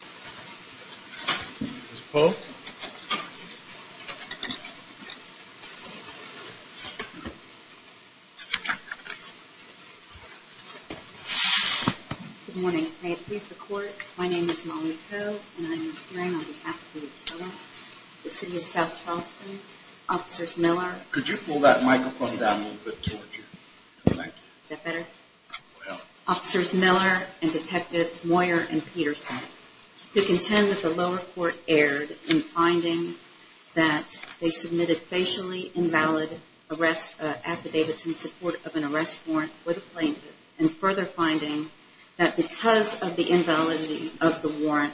Good morning. May it please the court, my name is Molly Coe and I'm appearing on behalf of the Attorneys, the City of South Charleston, Officers Miller Could you pull that microphone down a little bit toward you? Is that better? Officers Miller and Detectives Moyer and Peterson, we contend that the lower court erred in finding that they submitted facially invalid arrest affidavits in support of an arrest warrant for the plaintiff, and further finding that because of the invalidity of the warrant,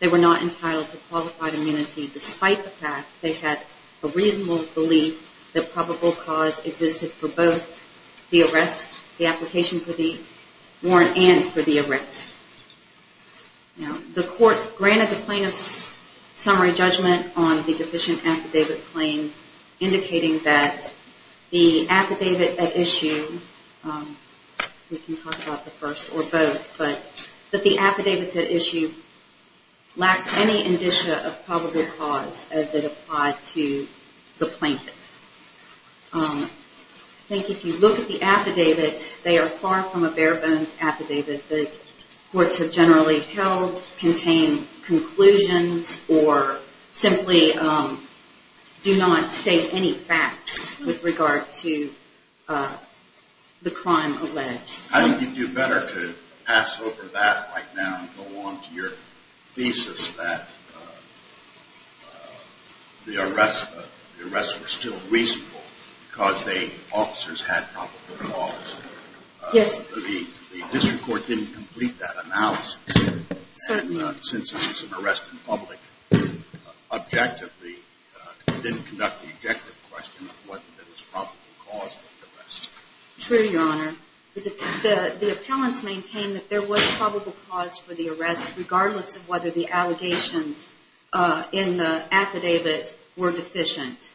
they were not entitled to qualified immunity despite the fact they had a reasonable belief that probable cause existed for both the arrest, the application for the warrant and for the arrest. The court granted the plaintiff's summary judgment on the deficient affidavit claim, indicating that the affidavit at issue, we can talk about the first or both, but that the affidavits at issue lacked any indicia of probable cause as it applied to the plaintiff. I think if you look at the affidavit, they are far from a bare bones affidavit. The courts have generally held, contained conclusions or simply do not state any facts with regard to the crime alleged. I think you'd do better to pass over that right now and go on to your thesis that the arrests were still reasonable because the officers had probable cause. Yes. The district court didn't complete that analysis. Certainly. Since it was an arrest in public, objectively, it didn't conduct the objective question of whether there was probable cause for the arrest. True, Your Honor. The appellants maintained that there was probable cause for the arrest regardless of whether the allegations in the affidavit were deficient.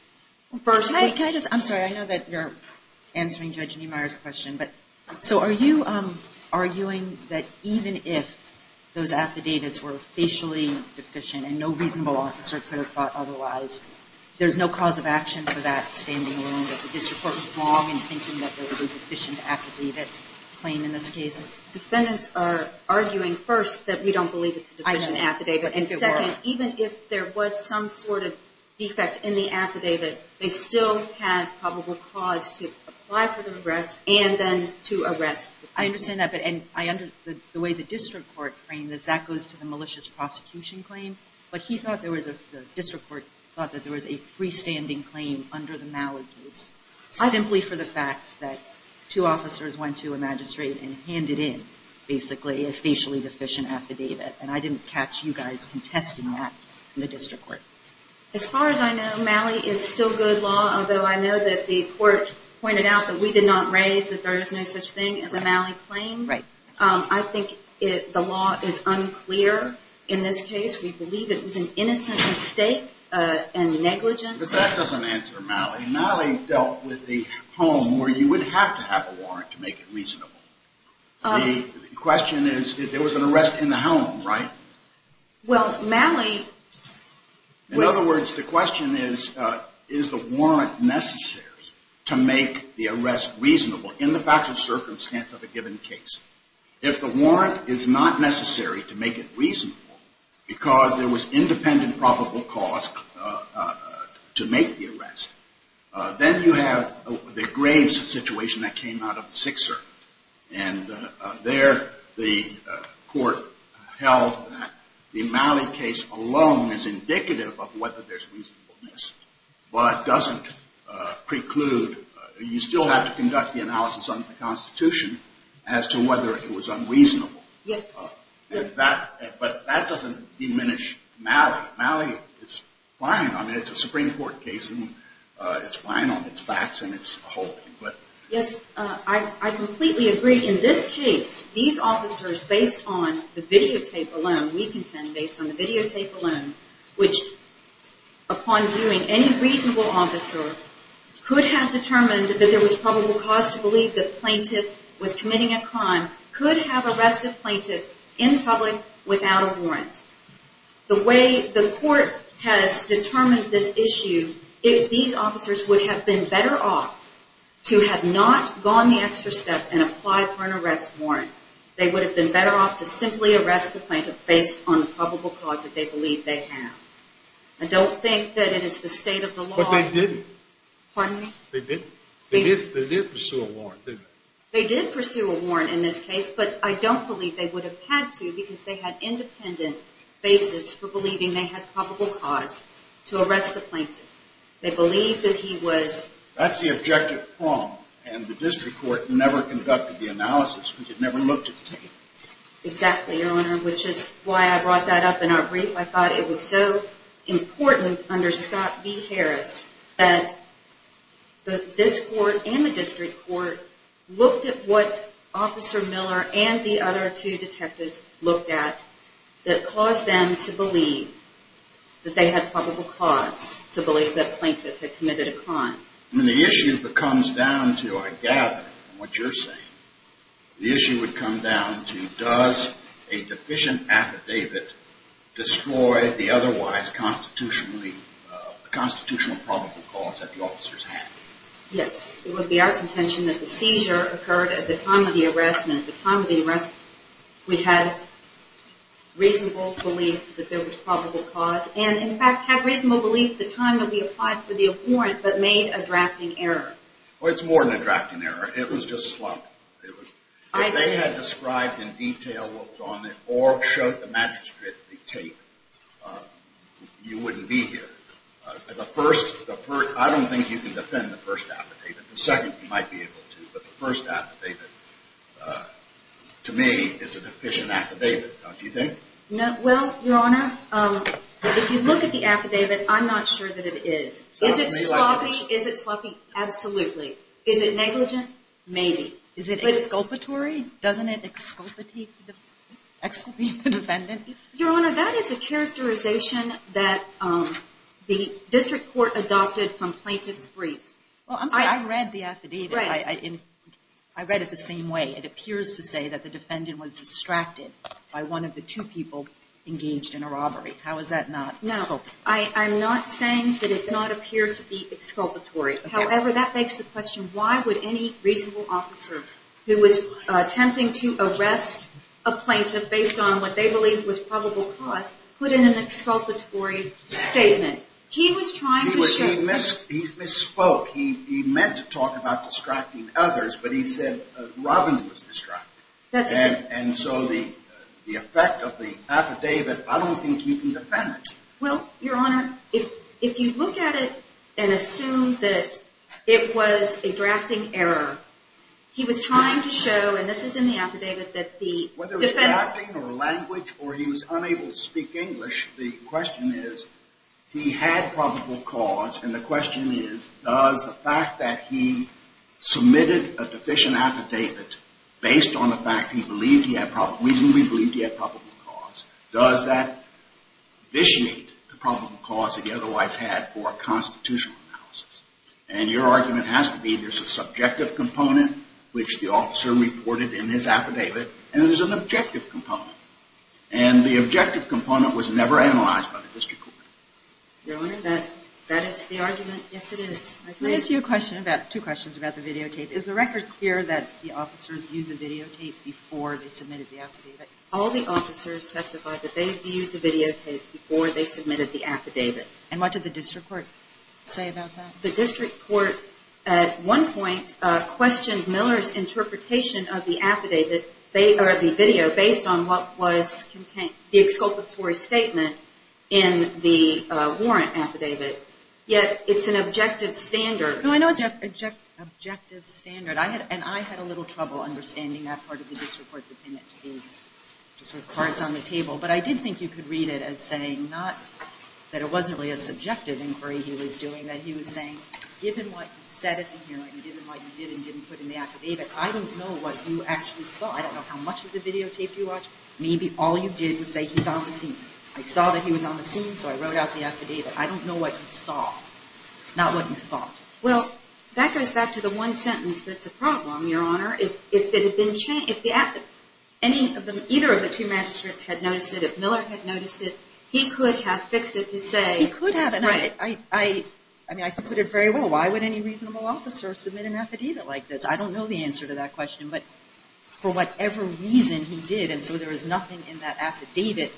Can I just, I'm sorry, I know that you're answering Judge Niemeyer's question, but so are you arguing that even if those affidavits were officially deficient and no reasonable officer could have thought otherwise, there's no cause of action for that standing alone, that the district court was wrong in thinking that there was a deficient affidavit claim in this case? Defendants are arguing, first, that we don't believe it's a deficient affidavit. And second, even if there was some sort of defect in the affidavit, they still had probable cause to apply for the arrest and then to arrest. I understand that, but the way the district court framed this, that goes to the malicious prosecution claim. But the district court thought that there was a freestanding claim under the Malley case, simply for the fact that two officers went to a magistrate and handed in, basically, a facially deficient affidavit. And I didn't catch you guys contesting that in the district court. As far as I know, Malley is still good law, although I know that the court pointed out that we did not raise that there is no such thing as a Malley claim. Right. I think the law is unclear in this case. We believe it was an innocent mistake and negligence. But that doesn't answer Malley. Malley dealt with the home where you would have to have a warrant to make it reasonable. The question is, there was an arrest in the home, right? Well, Malley... In other words, the question is, is the warrant necessary to make the arrest reasonable in the factual circumstance of a given case? If the warrant is not necessary to make it reasonable because there was independent probable cause to make the arrest, then you have the graves situation that came out of Sixer. And there the court held that the Malley case alone is indicative of whether there's reasonableness, but doesn't preclude... You still have to conduct the analysis under the Constitution as to whether it was unreasonable. Yes. But that doesn't diminish Malley. Malley is fine. I mean, it's a Supreme Court case, and it's fine on its facts and its whole. Yes, I completely agree. In this case, these officers, based on the videotape alone, we contend, based on the videotape alone, which, upon viewing any reasonable officer, could have determined that there was probable cause to believe that the plaintiff was committing a crime, could have arrested the plaintiff in public without a warrant. The way the court has determined this issue, if these officers would have been better off to have not gone the extra step and applied for an arrest warrant, they would have been better off to simply arrest the plaintiff based on the probable cause that they believe they have. I don't think that it is the state of the law... But they didn't. Pardon me? They didn't. They did pursue a warrant, didn't they? They did pursue a warrant in this case, but I don't believe they would have had to, because they had independent basis for believing they had probable cause to arrest the plaintiff. They believed that he was... That's the objective prong, and the district court never conducted the analysis, which it never looked at the tape. Exactly, Your Honor, which is why I brought that up in our brief. I thought it was so important under Scott v. Harris that this court and the district court looked at what Officer Miller and the other two detectives looked at that caused them to believe that they had probable cause to believe that a plaintiff had committed a crime. When the issue comes down to, I gather, what you're saying, the issue would come down to, does a deficient affidavit destroy the otherwise constitutional probable cause that the officers have? Yes, it would be our contention that the seizure occurred at the time of the arrest, and at the time of the arrest we had reasonable belief that there was probable cause, and in fact had reasonable belief the time that we applied for the abhorrent but made a drafting error. Well, it's more than a drafting error. It was just slumped. If they had described in detail what was on it or showed the magistrate the tape, you wouldn't be here. I don't think you can defend the first affidavit. The second you might be able to, but the first affidavit, to me, is a deficient affidavit, don't you think? Well, Your Honor, if you look at the affidavit, I'm not sure that it is. Is it sloppy? Is it sloppy? Absolutely. Is it negligent? Maybe. Is it exculpatory? Doesn't it exculpate the defendant? Your Honor, that is a characterization that the district court adopted from plaintiff's briefs. Well, I'm sorry. I read the affidavit. I read it the same way. It appears to say that the defendant was distracted by one of the two people engaged in a robbery. How is that not exculpatory? No. I'm not saying that it did not appear to be exculpatory. However, that begs the question, why would any reasonable officer who was attempting to arrest a plaintiff based on what they believed was probable cause put in an exculpatory statement? He misspoke. He meant to talk about distracting others, but he said Robin was distracted. And so the effect of the affidavit, I don't think you can defend it. Well, Your Honor, if you look at it and assume that it was a drafting error, he was trying to show, and this is in the affidavit, that the defendant or he was unable to speak English, the question is, he had probable cause, and the question is, does the fact that he submitted a deficient affidavit based on the fact he reasonably believed he had probable cause, does that vitiate the probable cause that he otherwise had for a constitutional analysis? And your argument has to be there's a subjective component, which the officer reported in his affidavit, and there's an objective component. And the objective component was never analyzed by the district court. Your Honor, that is the argument? Yes, it is. Let me ask you a question about, two questions about the videotape. Is the record clear that the officers viewed the videotape before they submitted the affidavit? All the officers testified that they viewed the videotape before they submitted the affidavit. And what did the district court say about that? The district court at one point questioned Miller's interpretation of the affidavit, or the video, based on what was contained, the exculpatory statement in the warrant affidavit. Yet, it's an objective standard. No, I know it's an objective standard. And I had a little trouble understanding that part of the district court's opinion. Just with cards on the table. But I did think you could read it as saying not that it wasn't really a subjective inquiry he was doing. That he was saying, given what you said in the hearing, given what you did and didn't put in the affidavit, I don't know what you actually saw. I don't know how much of the videotape you watched. Maybe all you did was say he's on the scene. I saw that he was on the scene, so I wrote out the affidavit. I don't know what you saw, not what you thought. Well, that goes back to the one sentence that's a problem, Your Honor. If either of the two magistrates had noticed it, if Miller had noticed it, he could have fixed it to say... He could have. I mean, I could put it very well. Why would any reasonable officer submit an affidavit like this? I don't know the answer to that question. But for whatever reason, he did. And so there is nothing in that affidavit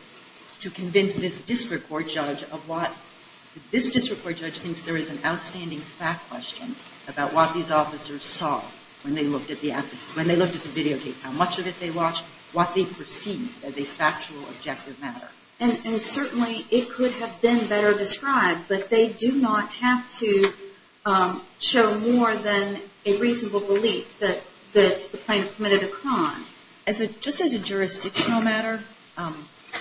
to convince this district court judge of what... When they looked at the videotape, how much of it they watched, what they perceived as a factual, objective matter. And certainly it could have been better described, but they do not have to show more than a reasonable belief that the plaintiff committed a crime. Just as a jurisdictional matter,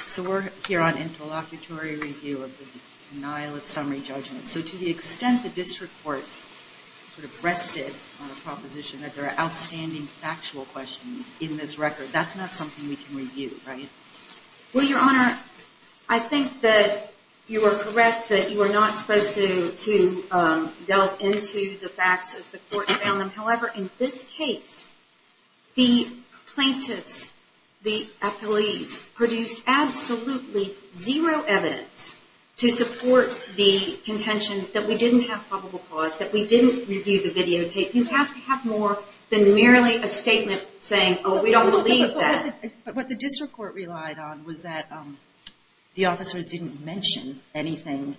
so we're here on interlocutory review of the denial of summary judgment. So to the extent the district court sort of rested on a proposition that there are outstanding factual questions in this record, that's not something we can review, right? Well, Your Honor, I think that you are correct that you are not supposed to delve into the facts as the court found them. You mentioned that we didn't have probable cause, that we didn't review the videotape. You have to have more than merely a statement saying, oh, we don't believe that. But what the district court relied on was that the officers didn't mention anything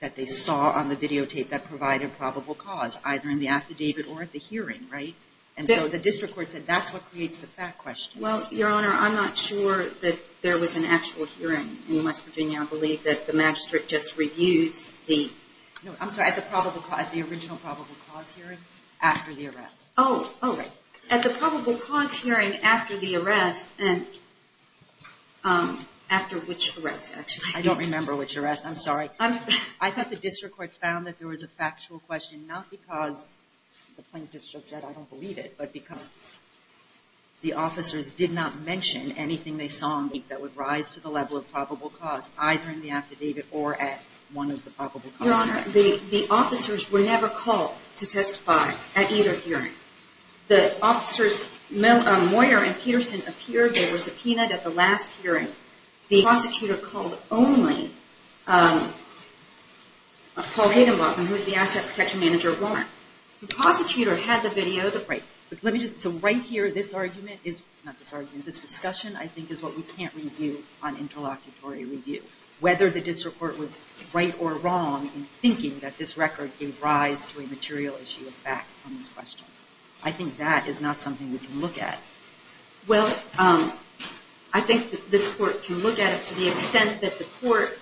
that they saw on the videotape that provided probable cause, either in the affidavit or at the hearing, right? And so the district court said that's what creates the fact question. Well, Your Honor, I'm not sure that there was an actual hearing in West Virginia. I believe that the magistrate just reviews the original probable cause hearing after the arrest. Oh, right. At the probable cause hearing after the arrest, and after which arrest, actually? I don't remember which arrest. I'm sorry. I thought the district court found that there was a factual question, not because the plaintiff just said I don't believe it, but because the officers did not mention anything they saw on the videotape that would rise to the level of probable cause, either in the affidavit or at one of the probable cause hearings. Your Honor, the officers were never called to testify at either hearing. The officers, Moyer and Peterson, appeared. They were subpoenaed at the last hearing. The prosecutor called only Paul Hagenbach, who was the asset protection manager of Warren. The prosecutor had the videotape. Right. So right here, this argument is not this argument. This discussion, I think, is what we can't review on interlocutory review, whether the district court was right or wrong in thinking that this record gave rise to a material issue of fact on this question. I think that is not something we can look at. Well, I think that this court can look at it to the extent that the court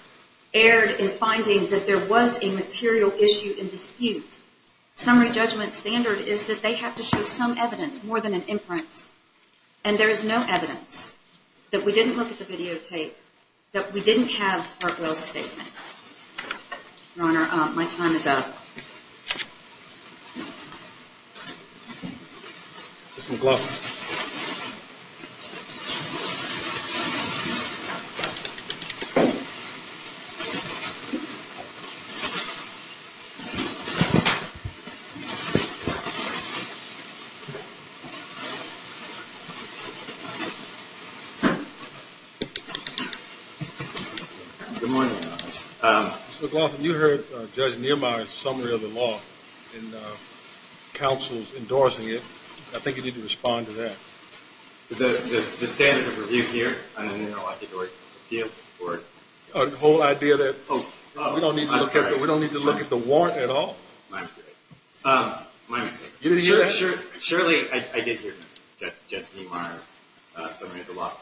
erred in finding that there was a material issue in dispute. Summary judgment standard is that they have to show some evidence more than an imprint. And there is no evidence that we didn't look at the videotape, that we didn't have Hartwell's statement. Your Honor, my time is up. Mr. McLaughlin. Good morning, Your Honor. Mr. McLaughlin, you heard Judge Neumeier's summary of the law and counsel's endorsing it. I think you need to respond to that. The standard of review here on an interlocutory appeal court? The whole idea that we don't need to look at the warrant at all. My mistake. My mistake. You didn't hear that? Surely I did hear Judge Neumeier's summary of the law.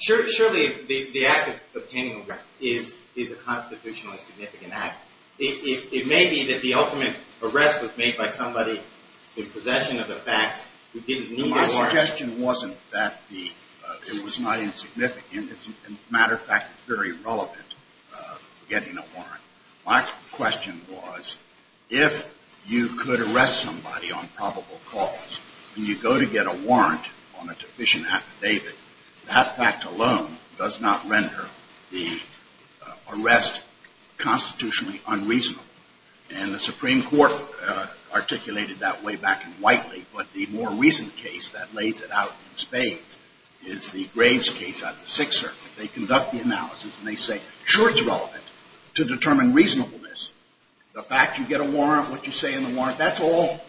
Surely the act of obtaining a warrant is a constitutionally significant act. It may be that the ultimate arrest was made by somebody in possession of the facts who didn't need a warrant. My suggestion wasn't that it was not insignificant. As a matter of fact, it's very relevant for getting a warrant. My question was, if you could arrest somebody on probable cause, and you go to get a warrant on a deficient affidavit, that fact alone does not render the arrest constitutionally unreasonable. And the Supreme Court articulated that way back in Whiteley, but the more recent case that lays it out in spades is the Graves case out of the Sixth Circuit. They conduct the analysis, and they say, sure, it's relevant to determine reasonableness. The fact you get a warrant, what you say in the warrant, that's all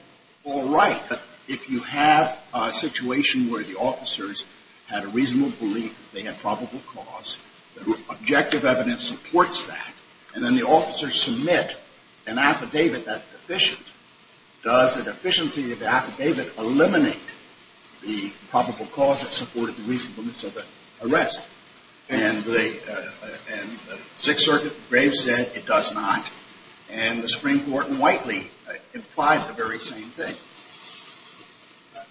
right. But if you have a situation where the officers had a reasonable belief that they had probable cause, the objective evidence supports that, and then the officers submit an affidavit that's deficient, does the deficiency of the affidavit eliminate the probable cause that supported the reasonableness of the arrest? And the Sixth Circuit, Graves said it does not. And the Supreme Court in Whiteley implied the very same thing.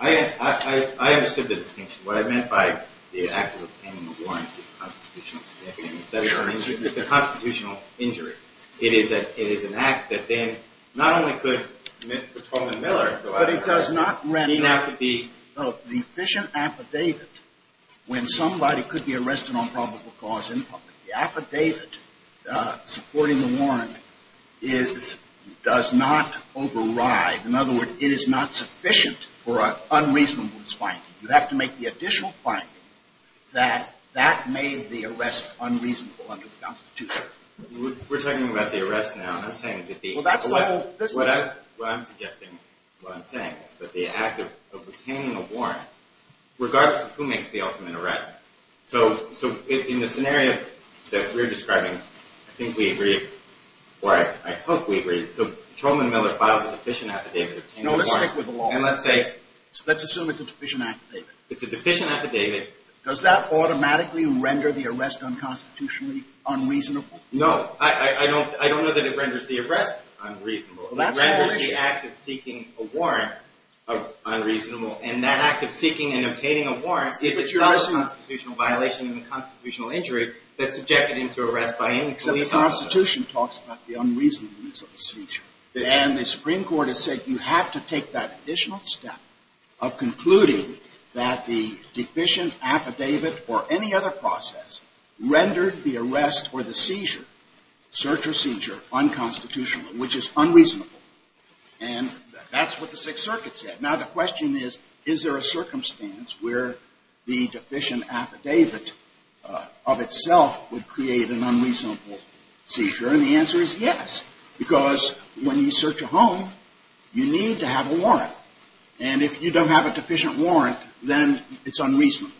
I understood the distinction. What I meant by the act of obtaining a warrant is a constitutional statement. It's a constitutional injury. It is an act that then not only could Mr. Truman Miller go out and do an affidavit. But it does not render the deficient affidavit when somebody could be arrested on probable cause in public. The affidavit supporting the warrant does not override. In other words, it is not sufficient for an unreasonableness finding. You have to make the additional finding that that made the arrest unreasonable under the Constitution. We're talking about the arrest now. What I'm suggesting, what I'm saying is that the act of obtaining a warrant, regardless of who makes the ultimate arrest. So in the scenario that we're describing, I think we agree, or I hope we agree, so Truman Miller files a deficient affidavit. No, let's stick with the law. Let's assume it's a deficient affidavit. It's a deficient affidavit. Does that automatically render the arrest unconstitutionally unreasonable? No. I don't know that it renders the arrest unreasonable. It renders the act of seeking a warrant unreasonable. And that act of seeking and obtaining a warrant is itself a constitutional violation and a constitutional injury that's subjected him to arrest by any police officer. The Constitution talks about the unreasonableness of a seizure. And the Supreme Court has said you have to take that additional step of concluding that the deficient affidavit or any other process rendered the arrest or the seizure, search or seizure, unconstitutional, which is unreasonable. And that's what the Sixth Circuit said. Now, the question is, is there a circumstance where the deficient affidavit of itself would create an unreasonable seizure? And the answer is yes, because when you search a home, you need to have a warrant. And if you don't have a deficient warrant, then it's unreasonable.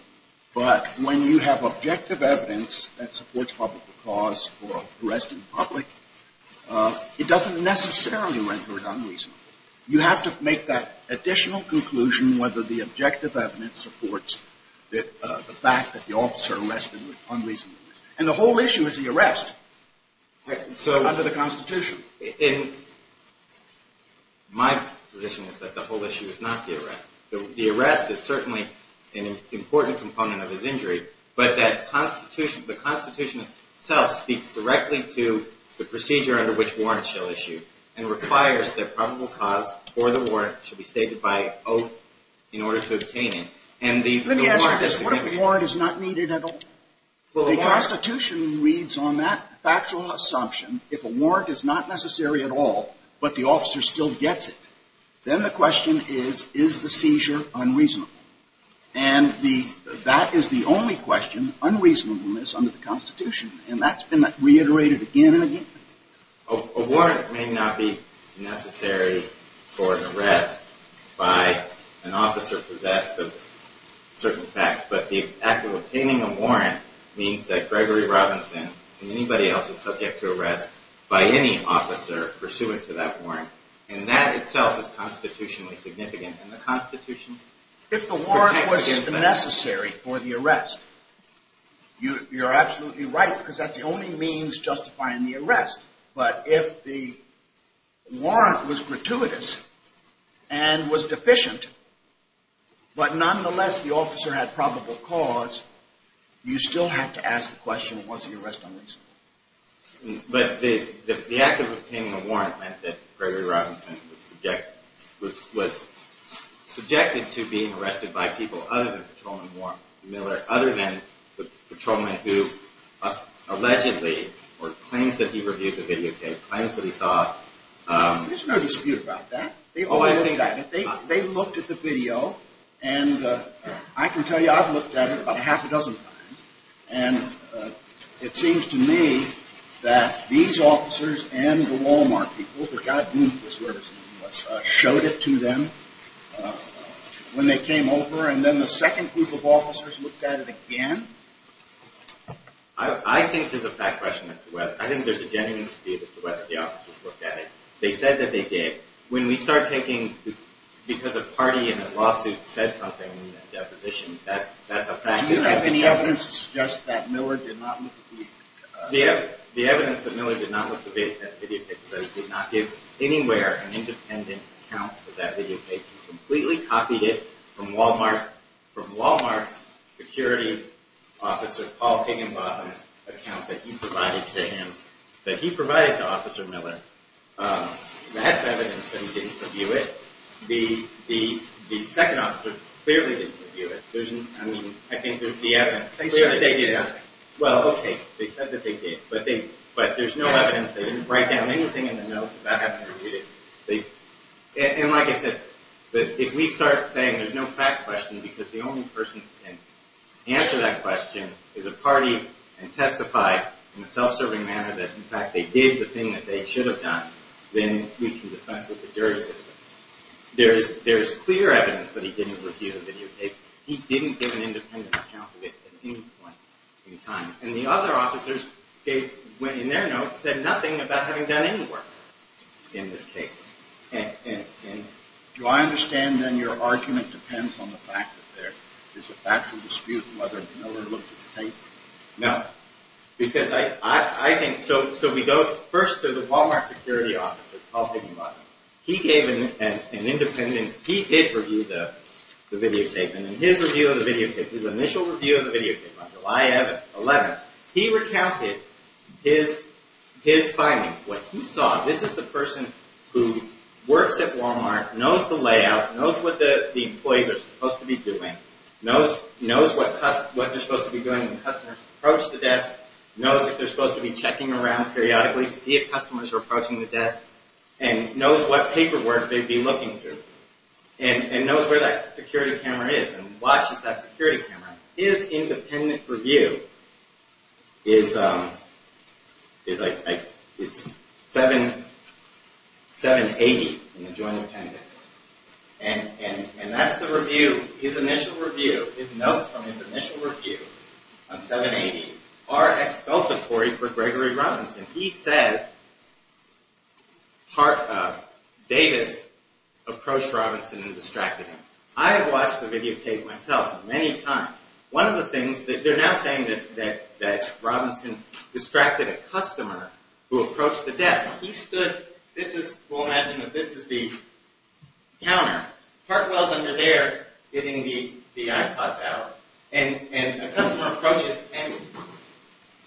But when you have objective evidence that supports public cause for arresting the public, it doesn't necessarily render it unreasonable. You have to make that additional conclusion whether the objective evidence supports the fact that the officer arrested And the whole issue is the arrest under the Constitution. My position is that the whole issue is not the arrest. The arrest is certainly an important component of his injury, but the Constitution itself speaks directly to the procedure under which warrants shall issue and requires that probable cause for the warrant should be stated by oath in order to obtain it. Let me ask you this. What if a warrant is not needed at all? The Constitution reads on that factual assumption, if a warrant is not necessary at all, but the officer still gets it, then the question is, is the seizure unreasonable? And that is the only question, unreasonableness under the Constitution. And that's been reiterated again and again. A warrant may not be necessary for an arrest by an officer possessed of certain facts, but the act of obtaining a warrant means that Gregory Robinson and anybody else is subject to arrest by any officer pursuant to that warrant. And that itself is constitutionally significant, and the Constitution protects against that. If the warrant was necessary for the arrest, you're absolutely right, because that's the only means justifying the arrest. But if the warrant was gratuitous and was deficient, but nonetheless the officer had probable cause, you still have to ask the question, was the arrest unreasonable? But the act of obtaining a warrant meant that Gregory Robinson was subjected to being arrested by people other than Patrolman Warren Miller, other than the patrolman who allegedly, or claims that he reviewed the videotape, claims that he saw it. There's no dispute about that. They all looked at it. They looked at the video, and I can tell you I've looked at it about half a dozen times, and it seems to me that these officers and the Walmart people, which I believe is where this meeting was, showed it to them when they came over, and then the second group of officers looked at it again. I think there's a fact question as to whether. I think there's a genuine dispute as to whether the officers looked at it. They said that they did. When we start taking, because a party in a lawsuit said something in a deposition, that's a fact. Do you have any evidence to suggest that Miller did not look at the videotape? That he did not give anywhere an independent account for that videotape. He completely copied it from Walmart's security officer, Paul Kigginbotham's account that he provided to him, that he provided to Officer Miller. That's evidence that he didn't review it. The second officer clearly didn't review it. I think there's the evidence. They said that they did. Well, okay, they said that they did, but there's no evidence. They didn't write down anything in the notes about having reviewed it. And like I said, if we start saying there's no fact question because the only person that can answer that question is a party and testified in a self-serving manner that in fact they did the thing that they should have done, then we can dispense with the jury system. There's clear evidence that he didn't review the videotape. He didn't give an independent account of it at any point in time. And the other officers, in their notes, said nothing about having done any work in this case. And do I understand then your argument depends on the fact that there's a factual dispute whether Miller looked at the tape? No. Because I think, so we go first to the Walmart security officer, Paul Kigginbotham. He gave an independent, he did review the videotape. And in his review of the videotape, his initial review of the videotape on July 11th, he recounted his findings, what he saw. This is the person who works at Walmart, knows the layout, knows what the employees are supposed to be doing, knows what they're supposed to be doing when customers approach the desk, knows if they're supposed to be checking around periodically to see if customers are approaching the desk, and knows what paperwork they'd be looking through. And knows where that security camera is and watches that security camera. His independent review is, it's 780 in the Joint Appendix. And that's the review, his initial review, his notes from his initial review on 780 are expulsatory for Gregory Robinson. He says, Davis approached Robinson and distracted him. I have watched the videotape myself many times. One of the things, they're now saying that Robinson distracted a customer who approached the desk. He stood, this is, we'll imagine that this is the counter. Hartwell's under there getting the iPods out. And a customer approaches, and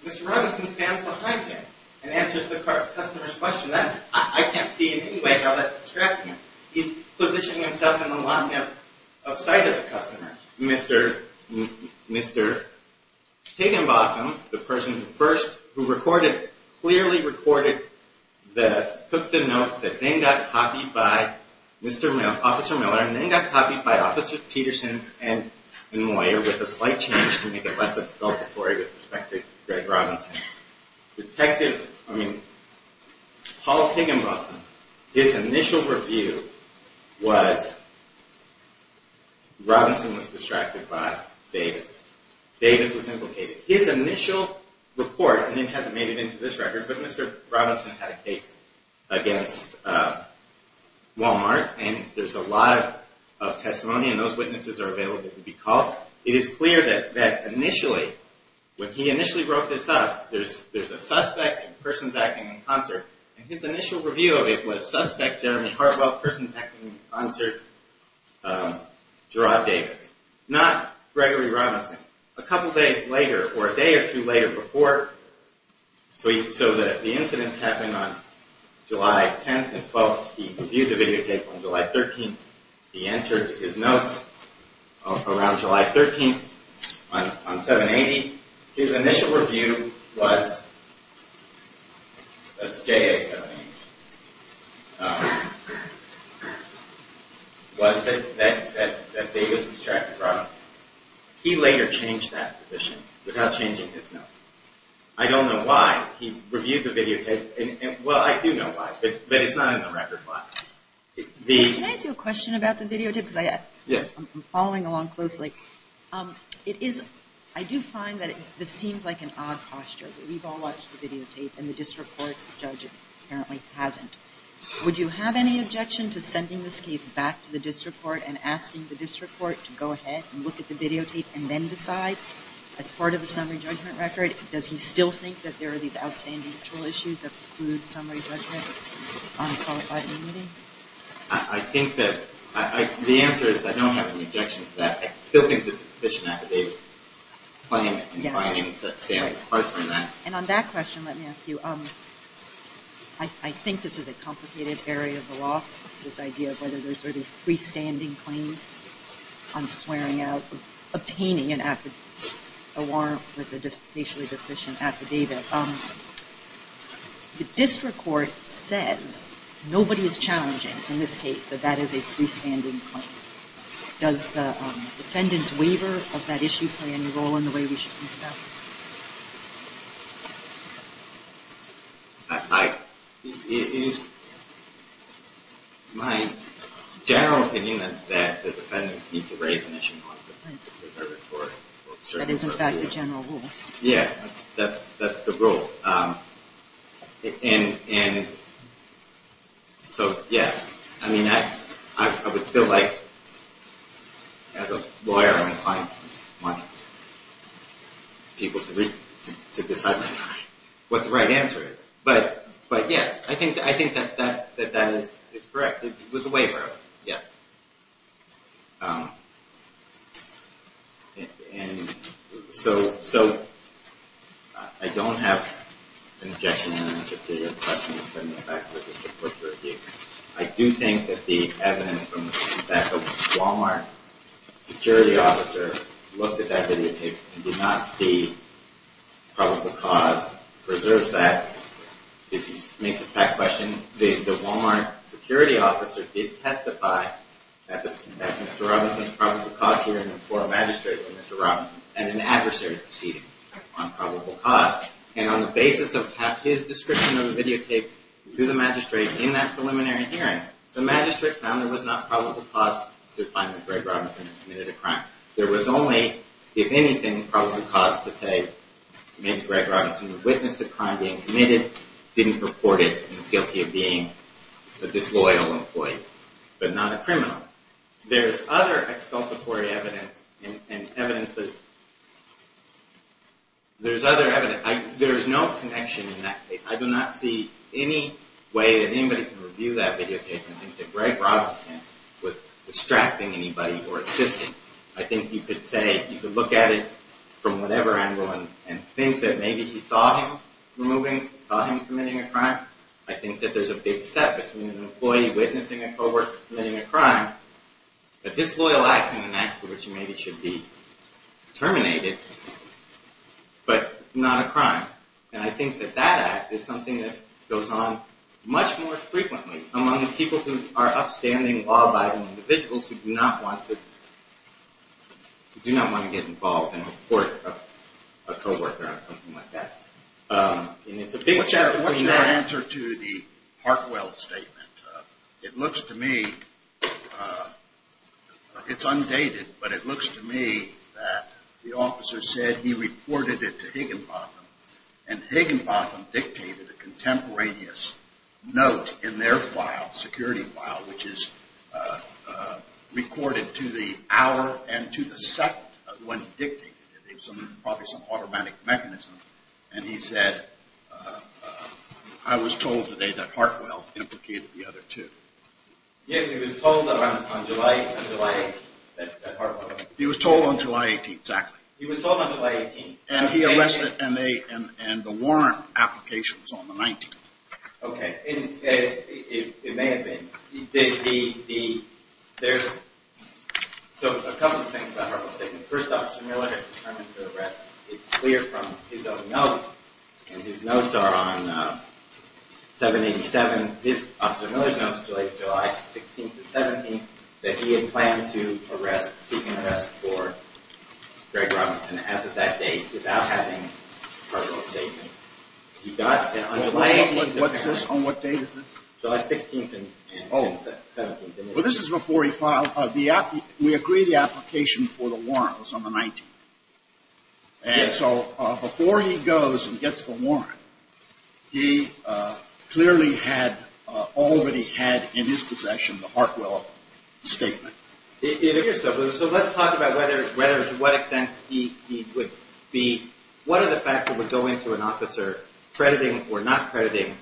Mr. Robinson stands behind him and answers the customer's question. I can't see in any way how that's distracting him. He's positioning himself in the line of sight of the customer. Mr. Higginbotham, the person who first, who recorded, clearly recorded, took the notes that then got copied by Officer Miller and then got copied by Officers Peterson and Moyer with a slight change to make it less expulsatory with respect to Greg Robinson. Detective, I mean, Paul Higginbotham, his initial review was Robinson was distracted by Davis. Davis was implicated. His initial report, and it hasn't made it into this record, but Mr. Robinson had a case against Walmart. And there's a lot of testimony, and those witnesses are available to be called. It is clear that initially, when he initially wrote this up, there's a suspect and persons acting in concert. And his initial review of it was suspect Jeremy Hartwell, persons acting in concert, Gerard Davis. Not Gregory Robinson. A couple days later, or a day or two later before, so the incidents happened on July 10th and 12th. He reviewed the videotape on July 13th. He entered his notes around July 13th on 780. His initial review was, that's JA 780, was that Davis was distracted by Robinson. He later changed that position without changing his notes. I don't know why he reviewed the videotape. Well, I do know why, but it's not in the record file. Can I ask you a question about the videotape? Yes. I'm following along closely. It is, I do find that this seems like an odd posture. We've all watched the videotape, and the district court judge apparently hasn't. Would you have any objection to sending this case back to the district court, and asking the district court to go ahead and look at the videotape, and then decide as part of the summary judgment record, does he still think that there are these outstanding mutual issues that preclude summary judgment on a qualified immunity? I think that, the answer is I don't have an objection to that. I still think that the petition affidavit claim and findings that stand apart from that. And on that question, let me ask you, I think this is a complicated area of the law, this idea of whether there's a freestanding claim on swearing out, obtaining a warrant for the facially deficient affidavit. The district court says nobody is challenging in this case that that is a freestanding claim. Does the defendant's waiver of that issue play any role in the way we should think about this? It is my general opinion that the defendants need to raise an issue on a deferred court. That is in fact the general rule. Yeah, that's the rule. And so, yes. I mean, I would still like, as a lawyer, I want people to decide what the right answer is. But yes, I think that that is correct. It was a waiver, yes. And so, I don't have an objection and an answer to your question. I do think that the evidence from the Walmart security officer looked at that videotape and did not see probable cause preserves that. It makes it a fact question. The Walmart security officer did testify that Mr. Robinson's probable cause hearing before a magistrate for Mr. Robinson had an adversary proceeding on probable cause. And on the basis of his description of the videotape to the magistrate in that preliminary hearing, the magistrate found there was not probable cause to find that Greg Robinson committed a crime. There was only, if anything, probable cause to say maybe Greg Robinson witnessed a crime being committed, didn't report it, and was guilty of being a disloyal employee, but not a criminal. There's other exculpatory evidence and evidence that's... There's other evidence. There's no connection in that case. I do not see any way that anybody can review that videotape and think that Greg Robinson was distracting anybody or assisting. I think you could say, you could look at it from whatever angle and think that maybe he saw him removing, saw him committing a crime. I think that there's a big step between an employee witnessing a co-worker committing a crime, a disloyal act, and an act for which he maybe should be terminated, but not a crime. And I think that that act is something that goes on much more frequently among the people who are upstanding, law-abiding individuals who do not want to... who do not want to get involved and report a co-worker on something like that. What's your answer to the Hartwell statement? It looks to me, it's undated, but it looks to me that the officer said he reported it to Higginbotham, and Higginbotham dictated a contemporaneous note in their file, security file, which is recorded to the hour and to the second of when he dictated it. It was probably some automatic mechanism, and he said, I was told today that Hartwell implicated the other two. Yeah, he was told on July 8th that Hartwell... He was told on July 18th, exactly. He was told on July 18th. And he arrested, and the warrant application was on the 19th. Okay, it may have been. There's a couple of things about Hartwell's statement. First, Officer Miller determined to arrest. It's clear from his own notes, and his notes are on 787. Officer Miller's notes relate to July 16th and 17th that he had planned to arrest, seek an arrest for Greg Robinson as of that date without having Hartwell's statement. He got it on July 18th. On what date is this? July 16th and 17th. Well, this is before he filed. We agree the application for the warrant was on the 19th. And so before he goes and gets the warrant, he clearly had already had in his possession the Hartwell statement. So let's talk about whether to what extent he would be, what are the facts that would go into an officer crediting or not crediting?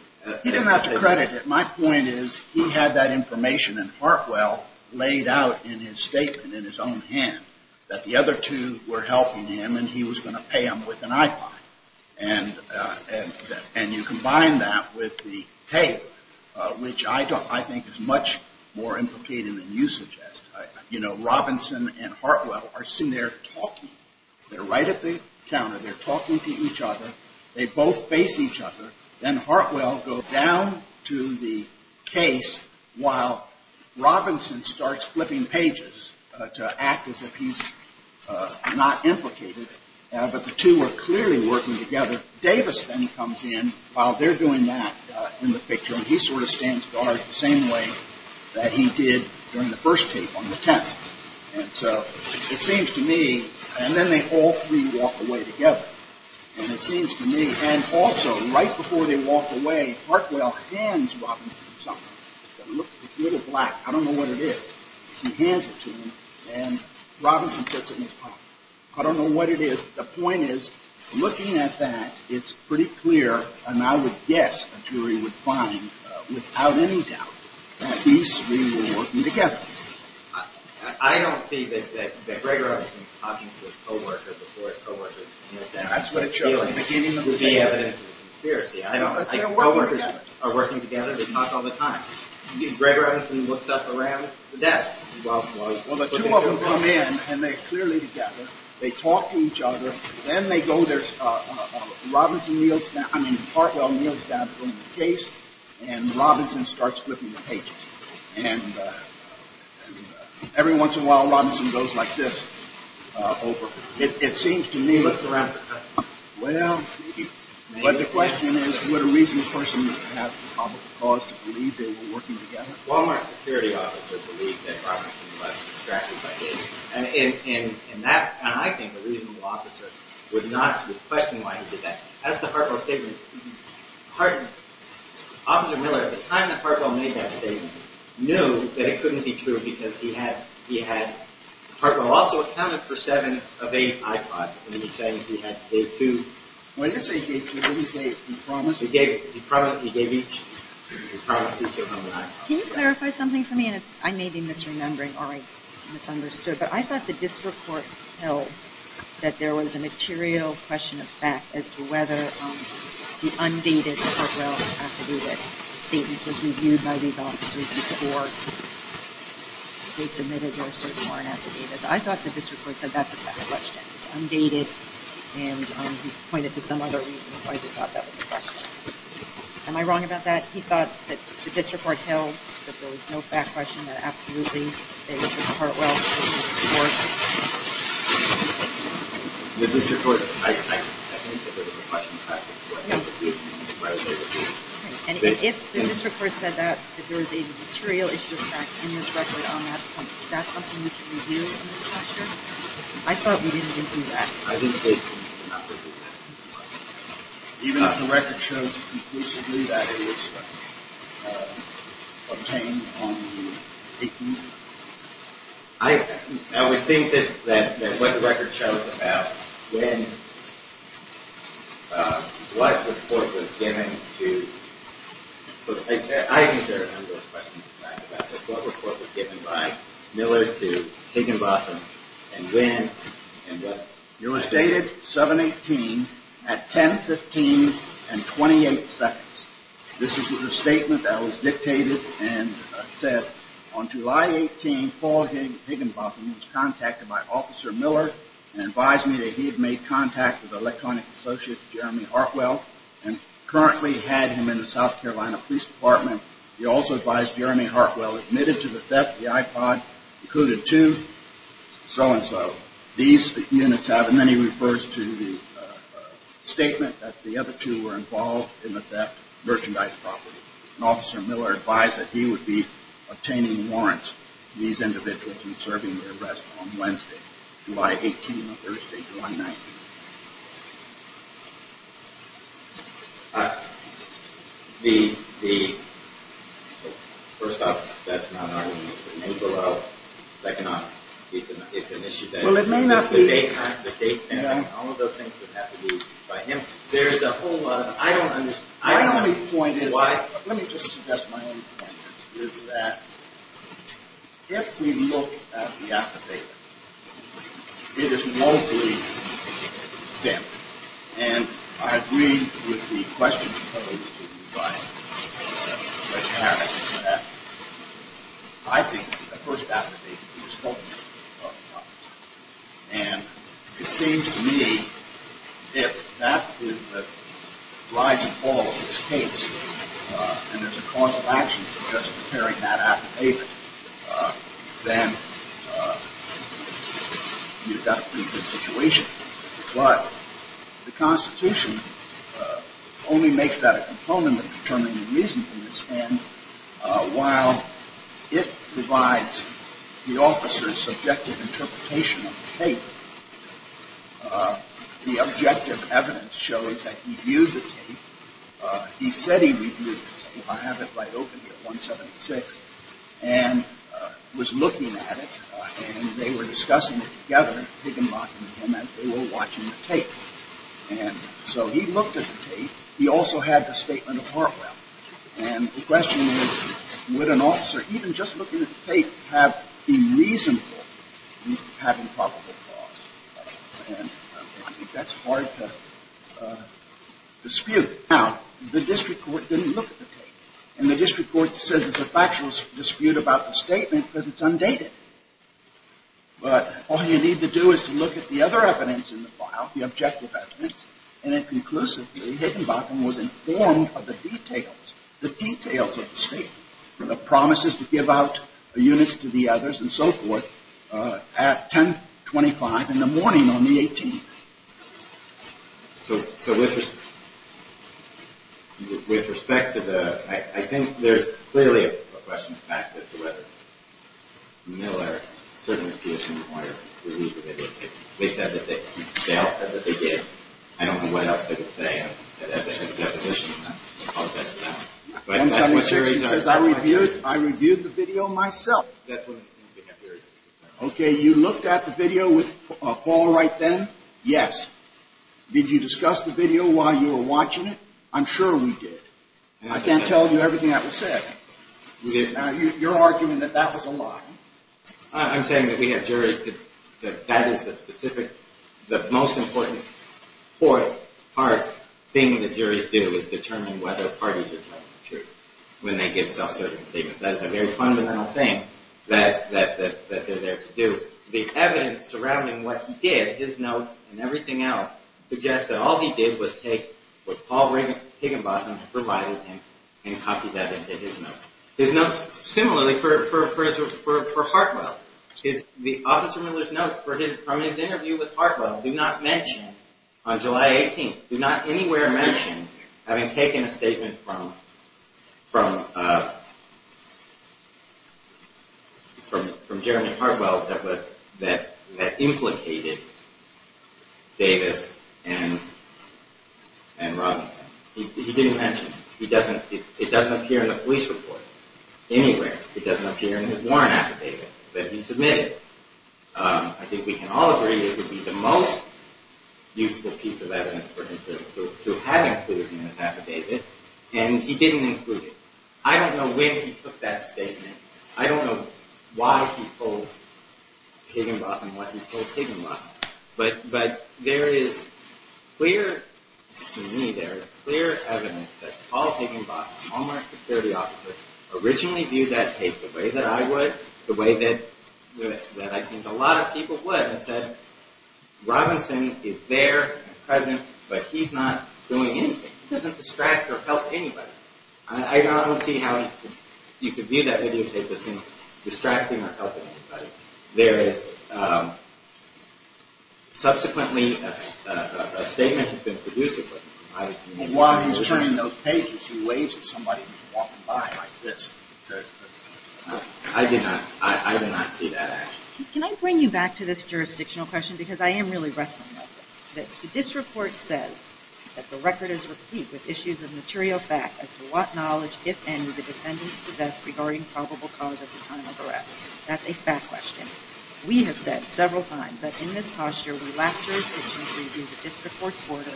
He didn't have to credit it. My point is he had that information in Hartwell laid out in his statement in his own hand that the other two were helping him and he was going to pay them with an iPod. And you combine that with the tape, which I think is much more implicated than you suggest. You know, Robinson and Hartwell are sitting there talking. They're right at the counter. They're talking to each other. They both face each other. Then Hartwell goes down to the case while Robinson starts flipping pages to act as if he's not implicated. But the two are clearly working together. Davis then comes in while they're doing that in the picture. And he sort of stands guard the same way that he did during the first tape on the 10th. And so it seems to me, and then they all three walk away together. And it seems to me, and also right before they walk away, Hartwell hands Robinson something. It's a little black. I don't know what it is. He hands it to him and Robinson puts it in his pocket. I don't know what it is. The point is looking at that, it's pretty clear, and I would guess a jury would find without any doubt, that these three were working together. I don't see that Gregor Evans is talking to his co-worker before his co-worker is. That's what it shows. There would be evidence of conspiracy. I don't think co-workers are working together. They talk all the time. Gregor Evans looks up around the desk. Well, the two of them come in, and they're clearly together. They talk to each other. Then they go there. Robinson kneels down. I mean, Hartwell kneels down in front of the case, and Robinson starts flipping the pages. And every once in a while, Robinson goes like this. It seems to me. He looks around. Well, but the question is, would a reasonable person have the probable cause to believe they were working together? A Walmart security officer believed that Robinson was distracted by this. And I think a reasonable officer would not question why he did that. That's the Hartwell statement. Officer Miller, at the time that Hartwell made that statement, knew that it couldn't be true because he had – Hartwell also accounted for seven of eight iPods. And he's saying he had two. When did he say he gave two? When did he say he promised? He gave each. He promised each of them an iPod. Can you clarify something for me? And I may be misremembering or I misunderstood, but I thought the district court held that there was a material question of fact as to whether the undated Hartwell affidavit statement was reviewed by these officers before they submitted their search warrant affidavits. I thought the district court said that's a fact question. It's undated, and he's pointed to some other reasons why he thought that was a question. Am I wrong about that? He thought that the district court held that there was no fact question, and that absolutely they took Hartwell's affidavit to court. The district court, I think, said there was a question of fact before they reviewed it. And if the district court said that, that there was a material issue of fact in this record on that point, that's something we can review in this case here? I thought we didn't even do that. I didn't think we did not review that. Even if the record shows conclusively that it was obtained on the 18th? I would think that what the record shows about when, what report was given to, I think there are a number of questions of fact about what report was given by Miller to Higginbotham and when and what. It was dated 7-18 at 10-15 and 28 seconds. This is the statement that was dictated and said, on July 18, Paul Higginbotham was contacted by Officer Miller and advised me that he had made contact with electronic associate Jeremy Hartwell and currently had him in the South Carolina Police Department. He also advised Jeremy Hartwell admitted to the theft of the iPod, included two so-and-so. These units have, and then he refers to the statement that the other two were involved in the theft of merchandise property. And Officer Miller advised that he would be obtaining warrants for these individuals and serving their arrest on Wednesday, July 18, Thursday, July 19. The, first off, that's not an argument. It may blow up. Second off, it's an issue that... Well, it may not be... All of those things would have to be by him. There's a whole lot of... I don't understand. My only point is... Why? Let me just suggest my own point. ...is that if we look at the affidavit, it is woefully dim. And I agree with the questions put over to you by Mr. Harris that I think the first affidavit is full of lies. And it seems to me if that is the rise and fall of this case and there's a cause of action for just preparing that affidavit, then you've got a pretty good situation. But the Constitution only makes that a component of determining the reason for this. And while it provides the officer's subjective interpretation of the tape, he said he reviewed it. I have it right open here, 176. And was looking at it, and they were discussing it together, Higginbotham and him, and they were watching the tape. And so he looked at the tape. He also had the statement of Hartwell. And the question is, would an officer even just looking at the tape be reasonable in having probable cause? And I think that's hard to dispute. Now, the district court didn't look at the tape. And the district court said there's a factual dispute about the statement because it's undated. But all you need to do is to look at the other evidence in the file, the objective evidence, and then conclusively Higginbotham was informed of the details, the details of the statement, the promises to give out units to the others and so forth, at 1025 in the morning on the 18th. So with respect to the – I think there's clearly a question of fact as to whether Miller certainly appears to inquire. They said that they did. I don't know what else they could say. I don't have a definition of that. 176 says, I reviewed the video myself. Okay, you looked at the video with Paul Wright then? Yes. Did you discuss the video while you were watching it? I'm sure we did. I can't tell you everything that was said. Your argument that that was a lie. I'm saying that we have juries that that is the specific, the most important part, thing that juries do, is determine whether parties are telling the truth when they give self-serving statements. That is a very fundamental thing that they're there to do. The evidence surrounding what he did, his notes and everything else, suggests that all he did was take what Paul Higginbotham had provided him and copied that into his notes. His notes similarly for Hartwell. Officer Miller's notes from his interview with Hartwell do not mention, from Jeremy Hartwell, that implicated Davis and Robinson. He didn't mention it. It doesn't appear in the police report anywhere. It doesn't appear in his warrant affidavit that he submitted. I think we can all agree it would be the most useful piece of evidence for him to have included in his affidavit. And he didn't include it. I don't know when he took that statement. I don't know why he told Higginbotham what he told Higginbotham. But there is clear evidence that Paul Higginbotham, a Walmart security officer, originally viewed that case the way that I would, the way that I think a lot of people would, Robinson is there and present, but he's not doing anything. He doesn't distract or help anybody. I don't see how you could view that videotape as him distracting or helping anybody. There is subsequently a statement that's been produced. While he's turning those pages, he waves at somebody who's walking by like this. I did not see that action. Can I bring you back to this jurisdictional question? Because I am really wrestling with this. The district court says that the record is replete with issues of material fact as to what knowledge, if any, the defendants possess regarding probable cause of the time of arrest. That's a fact question. We have said several times that in this posture, we lack jurisdiction to review the district court's order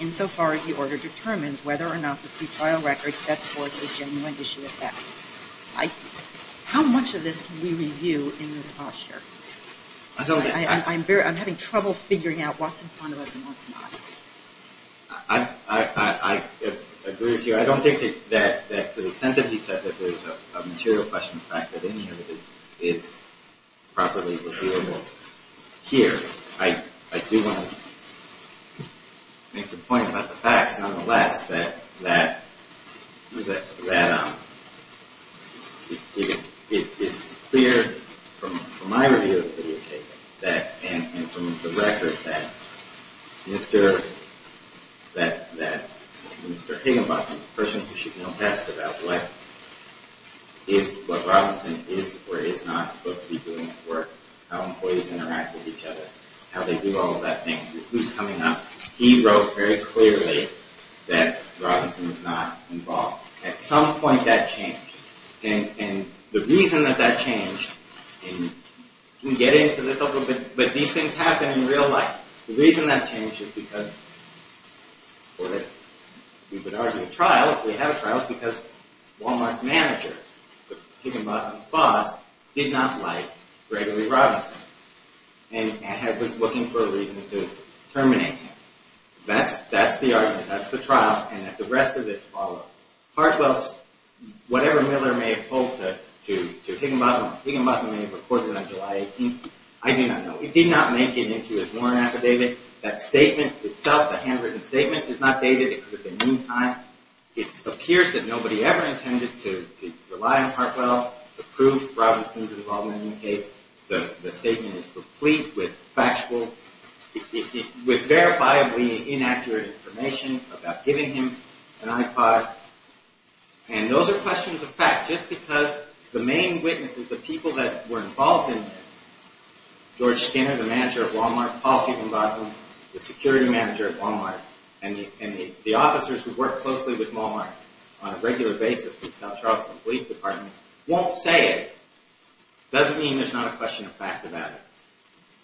insofar as the order determines whether or not the pretrial record sets forth a genuine issue of fact. How much of this can we review in this posture? I'm having trouble figuring out what's in front of us and what's not. I agree with you. I don't think that to the extent that he said that there's a material question in fact that any of it is properly reviewable here. I do want to make the point about the facts, nonetheless, that it is clear from my review of the videotape and from the record that Mr. Higginbotham, the person who should know best about what Robinson is or is not supposed to be doing at work, how employees interact with each other, how they do all of that thing, who's coming up, he wrote very clearly that Robinson was not involved. At some point that changed. And the reason that that changed, and we'll get into this a little bit, but these things happen in real life. The reason that changed is because, or that we would argue a trial if we had a trial, is because Walmart's manager, Higginbotham's boss, did not like Gregory Robinson and was looking for a reason to terminate him. That's the argument, that's the trial, and that the rest of this followed. Hartwell's, whatever Miller may have told to Higginbotham, Higginbotham may have reported on July 18th, I do not know. It did not make it into his warrant affidavit. That statement itself, the handwritten statement, is not dated. It could have been any time. It appears that nobody ever intended to rely on Hartwell to prove Robinson's involvement in the case. The statement is complete with factual, with verifiably inaccurate information about giving him an iPod. And those are questions of fact, just because the main witnesses, the people that were involved in this, George Skinner, the manager at Walmart, Paul Higginbotham, the security manager at Walmart, and the officers who work closely with Walmart on a regular basis with South Charleston Police Department, won't say it. Doesn't mean there's not a question of fact about it.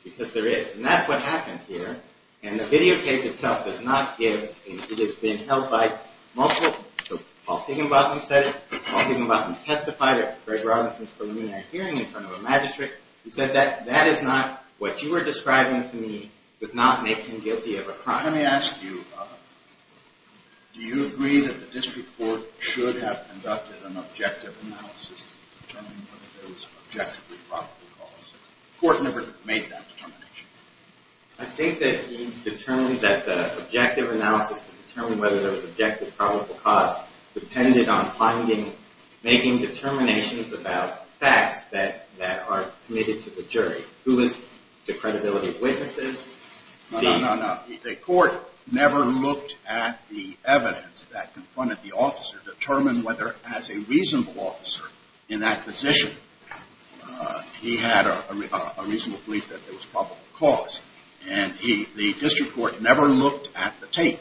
Because there is. And that's what happened here. And the videotape itself does not give, and it has been held by multiple, so Paul Higginbotham said it, Paul Higginbotham testified at Greg Robinson's preliminary hearing in front of a magistrate, who said that, that is not what you are describing to me does not make him guilty of a crime. Let me ask you, do you agree that the district court should have conducted an objective analysis to determine whether there was an objectively probable cause? The court never made that determination. I think that he determined that the objective analysis to determine whether there was an objectively probable cause depended on finding, making determinations about facts that are committed to the jury. Who is the credibility of witnesses? No, no, no, no. The court never looked at the evidence that confronted the officer to determine whether, as a reasonable officer in that position, he had a reasonable belief that there was probable cause. And the district court never looked at the tape.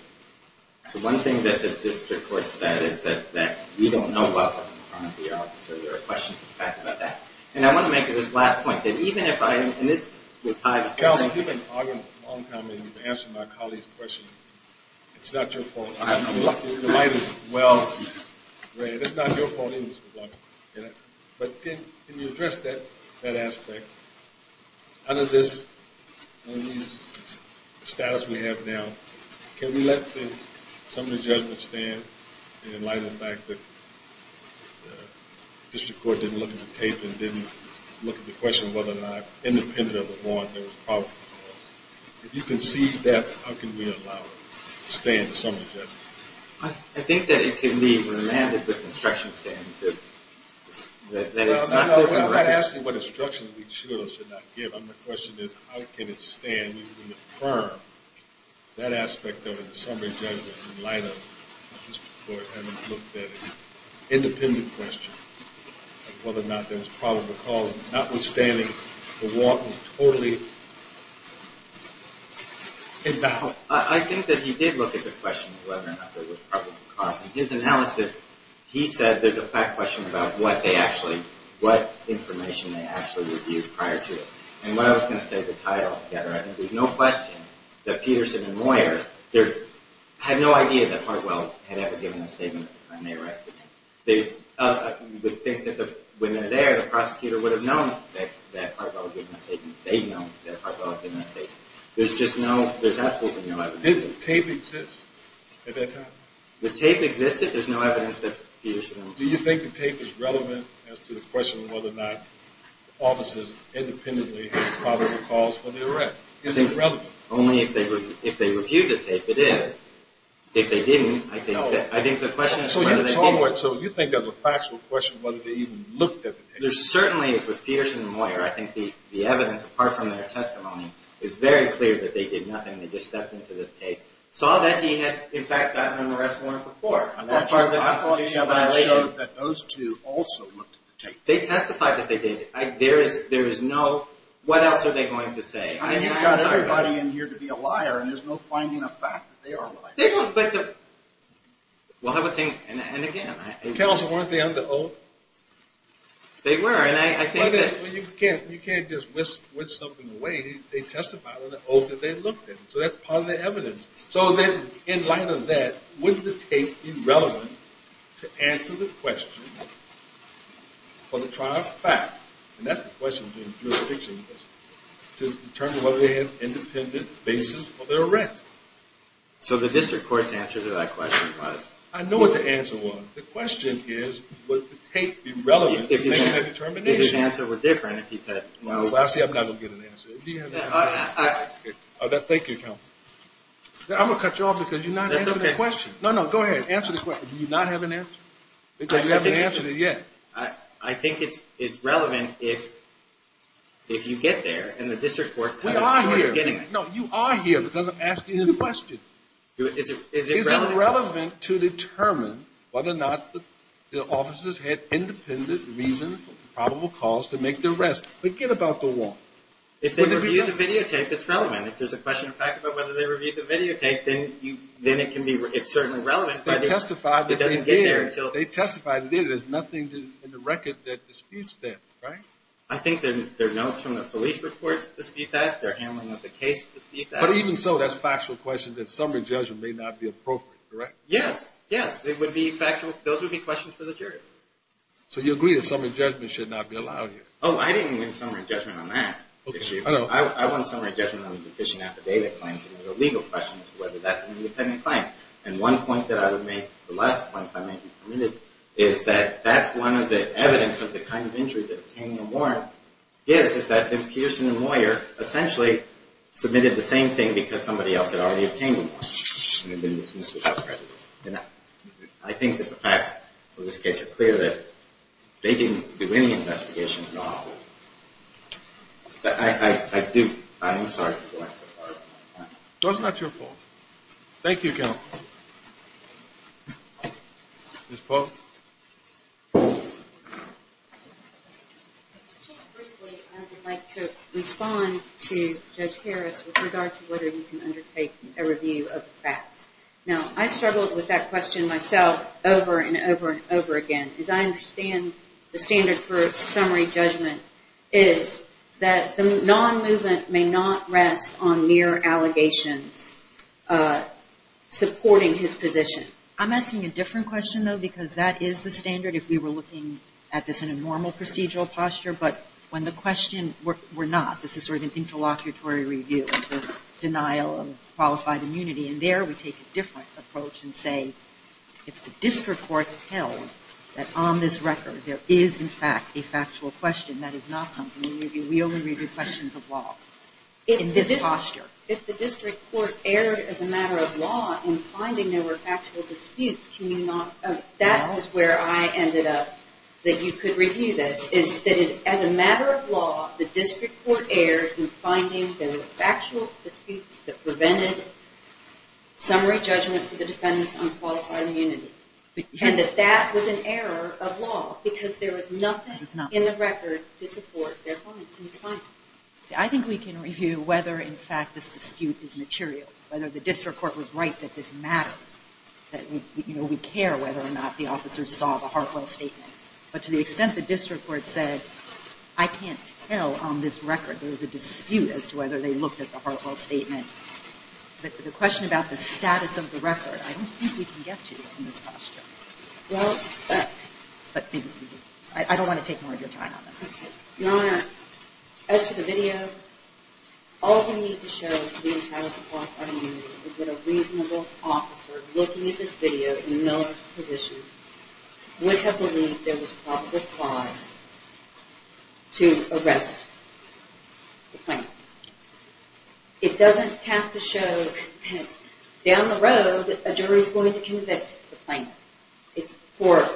So one thing that the district court said is that we don't know what was in front of the officer. There are questions in fact about that. And I want to make this last point, that even if I am in this... Calvin, you've been arguing a long time and you've been answering my colleagues' questions. It's not your fault. I'm lucky. Well, it's not your fault either. But can you address that aspect? Under this status we have now, can we let the summary judgment stand in light of the fact that the district court didn't look at the tape and didn't look at the question of whether or not, independent of the warrant, there was probable cause? If you can see that, how can we allow it to stand in the summary judgment? I think that it can be remanded with the instruction stand that it's not... I'm not asking what instructions we should or should not give. The question is how can it stand in the term, that aspect of it, the summary judgment, in light of the district court having looked at an independent question of whether or not there was probable cause, notwithstanding the warrant was totally invalid. I think that he did look at the question of whether or not there was probable cause. In his analysis, he said there's a fact question about what they actually, what information they actually reviewed prior to it. And what I was going to say to tie it all together, I think there's no question that Peterson and Moyer had no idea that Hartwell had ever given a statement at the time they arrested him. You would think that when they're there, the prosecutor would have known that Hartwell had given a statement. They know that Hartwell had given a statement. There's just no, there's absolutely no evidence. Did the tape exist at that time? The tape existed. There's no evidence that Peterson and Moyer... Do you think the tape is relevant as to the question of whether or not the officers independently had probable cause for the arrest? Is it relevant? Only if they reviewed the tape, it is. If they didn't, I think the question is whether they did. So you think there's a factual question whether they even looked at the tape? There certainly is with Peterson and Moyer. I think the evidence apart from their testimony is very clear that they did nothing. They just stepped into this case. Saw that he had, in fact, gotten an arrest warrant before. And that's just my thought. I thought the evidence showed that those two also looked at the tape. They testified that they did. There is no, what else are they going to say? I mean, you've got everybody in here to be a liar, and there's no finding a fact that they are liars. They don't, but the... We'll have a thing, and again... Counsel, weren't they under oath? They were, and I think that... You can't just whisk something away. They testified under oath that they looked at it. So that's part of the evidence. So then, in light of that, wouldn't the tape be relevant to answer the question for the trial of fact? And that's the question in jurisdiction. To determine whether they had an independent basis for their arrest. So the district court's answer to that question was... I know what the answer was. The question is, would the tape be relevant to make that determination? I think the answer would be different if you said... Well, I see I'm not going to get an answer. Do you have an answer? Thank you, counsel. I'm going to cut you off because you're not answering the question. No, no, go ahead. Answer the question. Do you not have an answer? Because you haven't answered it yet. I think it's relevant if you get there, and the district court... We are here. No, you are here because I'm asking you the question. Is it relevant to determine whether or not the officers had independent, reasonable, probable cause to make the arrest? Forget about the warrant. If they reviewed the videotape, it's relevant. If there's a question of fact about whether they reviewed the videotape, then it can be... It's certainly relevant, but it doesn't get there until... They testified that they did. They testified that they did. There's nothing in the record that disputes that, right? I think that there are notes from the police report that dispute that. They're handling up a case to dispute that. But even so, that's a factual question. That summary judgment may not be appropriate, correct? Yes. Yes. It would be factual. Those would be questions for the jury. So you agree that summary judgment should not be allowed here? Oh, I didn't mean summary judgment on that issue. I want summary judgment on the deficient affidavit claims. Those are legal questions, whether that's an independent claim. And one point that I would make, the last point, if I may be permitted, is that that's one of the evidence of the kind of injury that obtaining a warrant gives, because somebody else had already obtained a warrant. And it would have been dismissed without prejudice. And I think that the facts of this case are clear that they didn't do any investigation at all. But I do. I'm sorry for the lack of clarity. So it's not your fault. Thank you, Counsel. Ms. Polk? Just briefly, I would like to respond to Judge Harris with regard to whether you can undertake a review of the facts. Now, I struggled with that question myself over and over and over again. As I understand, the standard for summary judgment is that the non-movement may not rest on mere allegations supporting his position. I'm asking a different question, though, because that is the standard if we were looking at this in a normal procedural posture. But when the question were not, this is sort of an interlocutory review of denial of qualified immunity. And there, we take a different approach and say if the district court held that on this record there is, in fact, a factual question, that is not something we review. We only review questions of law in this posture. If the district court erred as a matter of law in finding there were factual disputes, can you not? That is where I ended up, that you could review this, is that as a matter of law, the district court erred in finding there were factual disputes that prevented summary judgment for the defendants on qualified immunity. And that that was an error of law, because there was nothing in the record to support their point. And it's fine. See, I think we can review whether, in fact, this dispute is material, whether the district court was right that this matters, that we care whether or not the officers saw the Hartwell statement. But to the extent the district court said, I can't tell on this record there was a dispute as to whether they looked at the Hartwell statement, the question about the status of the record, I don't think we can get to in this posture. Well, but maybe we do. I don't want to take more of your time on this. OK. Your Honor, as to the video, all we need to show to be entitled to qualified immunity is that a reasonable officer looking at this video in a militant position would have believed there was probable cause to arrest the plaintiff. It doesn't have to show down the road that a jury's going to convict the plaintiff for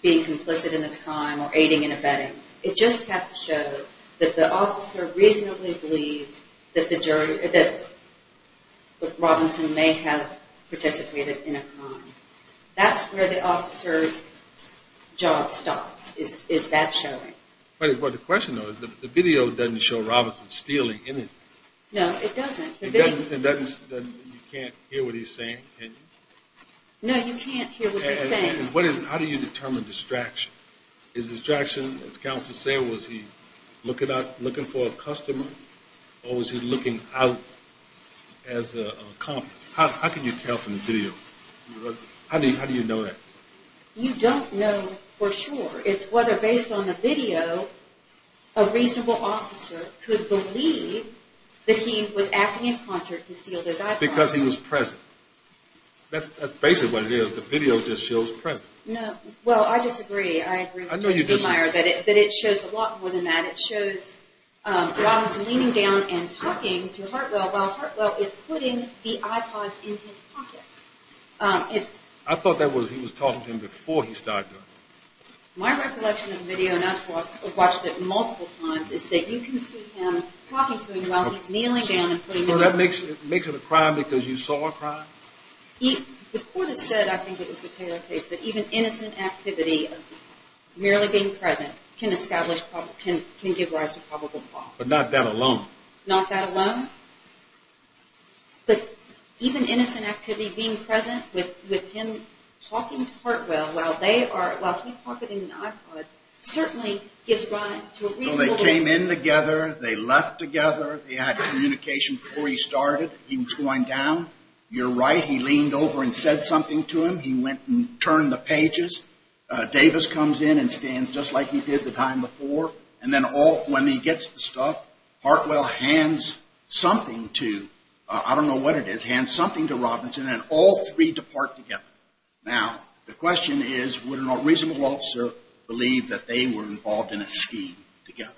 being complicit in this crime or aiding and abetting. It just has to show that the officer reasonably believes that Robinson may have participated in a crime. That's where the officer's job stops, is that showing. But the question, though, is the video doesn't show Robinson stealing anything. No, it doesn't. It doesn't? You can't hear what he's saying, can you? No, you can't hear what he's saying. How do you determine distraction? Is distraction, as counsel was saying, was he looking for a customer? Or was he looking out as an accomplice? How can you tell from the video? How do you know that? You don't know for sure. It's whether, based on the video, a reasonable officer could believe that he was acting in concert to steal those eyeglasses. Because he was present. That's basically what it is. The video just shows present. No. Well, I disagree. I agree with you. I know you disagree. But it shows a lot more than that. It shows Robinson leaning down and talking to Hartwell while Hartwell is putting the iPods in his pocket. I thought that was he was talking to him before he started. My recollection of the video, and I've watched it multiple times, is that you can see him talking to him while he's kneeling down and putting the iPods in his pocket. So that makes it a crime because you saw a crime? The court has said, I think it was the Taylor case, that even innocent activity, merely being present, can give rise to probable cause. But not that alone. Not that alone? But even innocent activity, being present with him talking to Hartwell while he's pocketing the iPods, certainly gives rise to a reasonable... They came in together. They left together. They had communication before he started. He was going down. You're right. He leaned over and said something to him. He went and turned the pages. Davis comes in and stands just like he did the time before. And then when he gets the stuff, Hartwell hands something to, I don't know what it is, hands something to Robinson, and all three depart together. Now, the question is, would a reasonable officer believe that they were involved in a scheme together?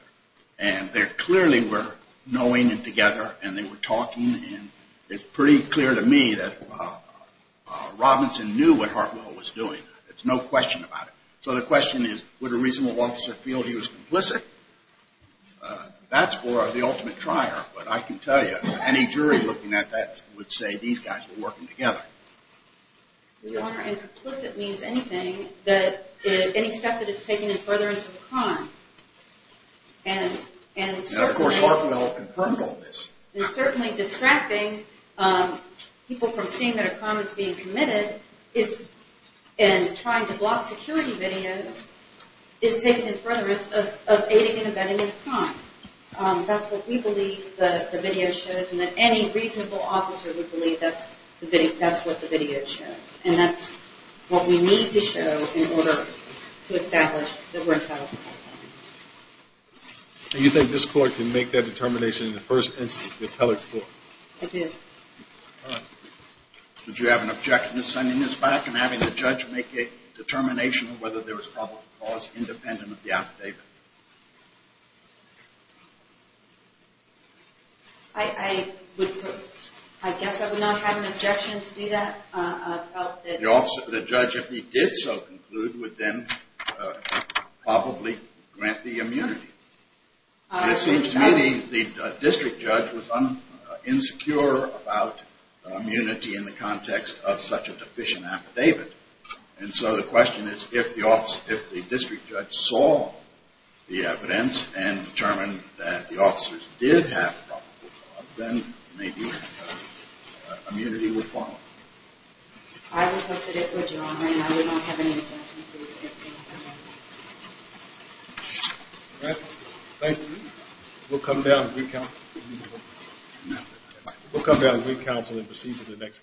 And there clearly were knowing and together, and they were talking, and it's pretty clear to me that Robinson knew what Hartwell was doing. There's no question about it. So the question is, would a reasonable officer feel he was complicit? That's for the ultimate trier. But I can tell you, any jury looking at that would say these guys were working together. Your Honor, and complicit means anything, any step that is taking in furtherance of a crime. And certainly... And, of course, Hartwell confirmed all this. And certainly distracting people from seeing that a crime is being committed and trying to block security videos is taking in furtherance of aiding and abetting a crime. That's what we believe the video shows, and that any reasonable officer would believe that's what the video shows. And that's what we need to show in order to establish that we're in trouble. And you think this court can make that determination in the first instance with Heller's court? I do. All right. Would you have an objection to sending this back and having the judge make a determination of whether there was probable cause independent of the affidavit? I would... I guess I would not have an objection to do that. I felt that... The judge, if he did so conclude, would then probably grant the immunity. It seems to me the district judge was insecure about immunity in the context of such a deficient affidavit. And so the question is, if the district judge saw the evidence and determined that the officers did have probable cause, then maybe immunity would follow. I would hope that it would, Your Honor, and I would not have any objection to it. All right. Thank you. We'll come down and recount. We'll come down and recount and then proceed to the next case.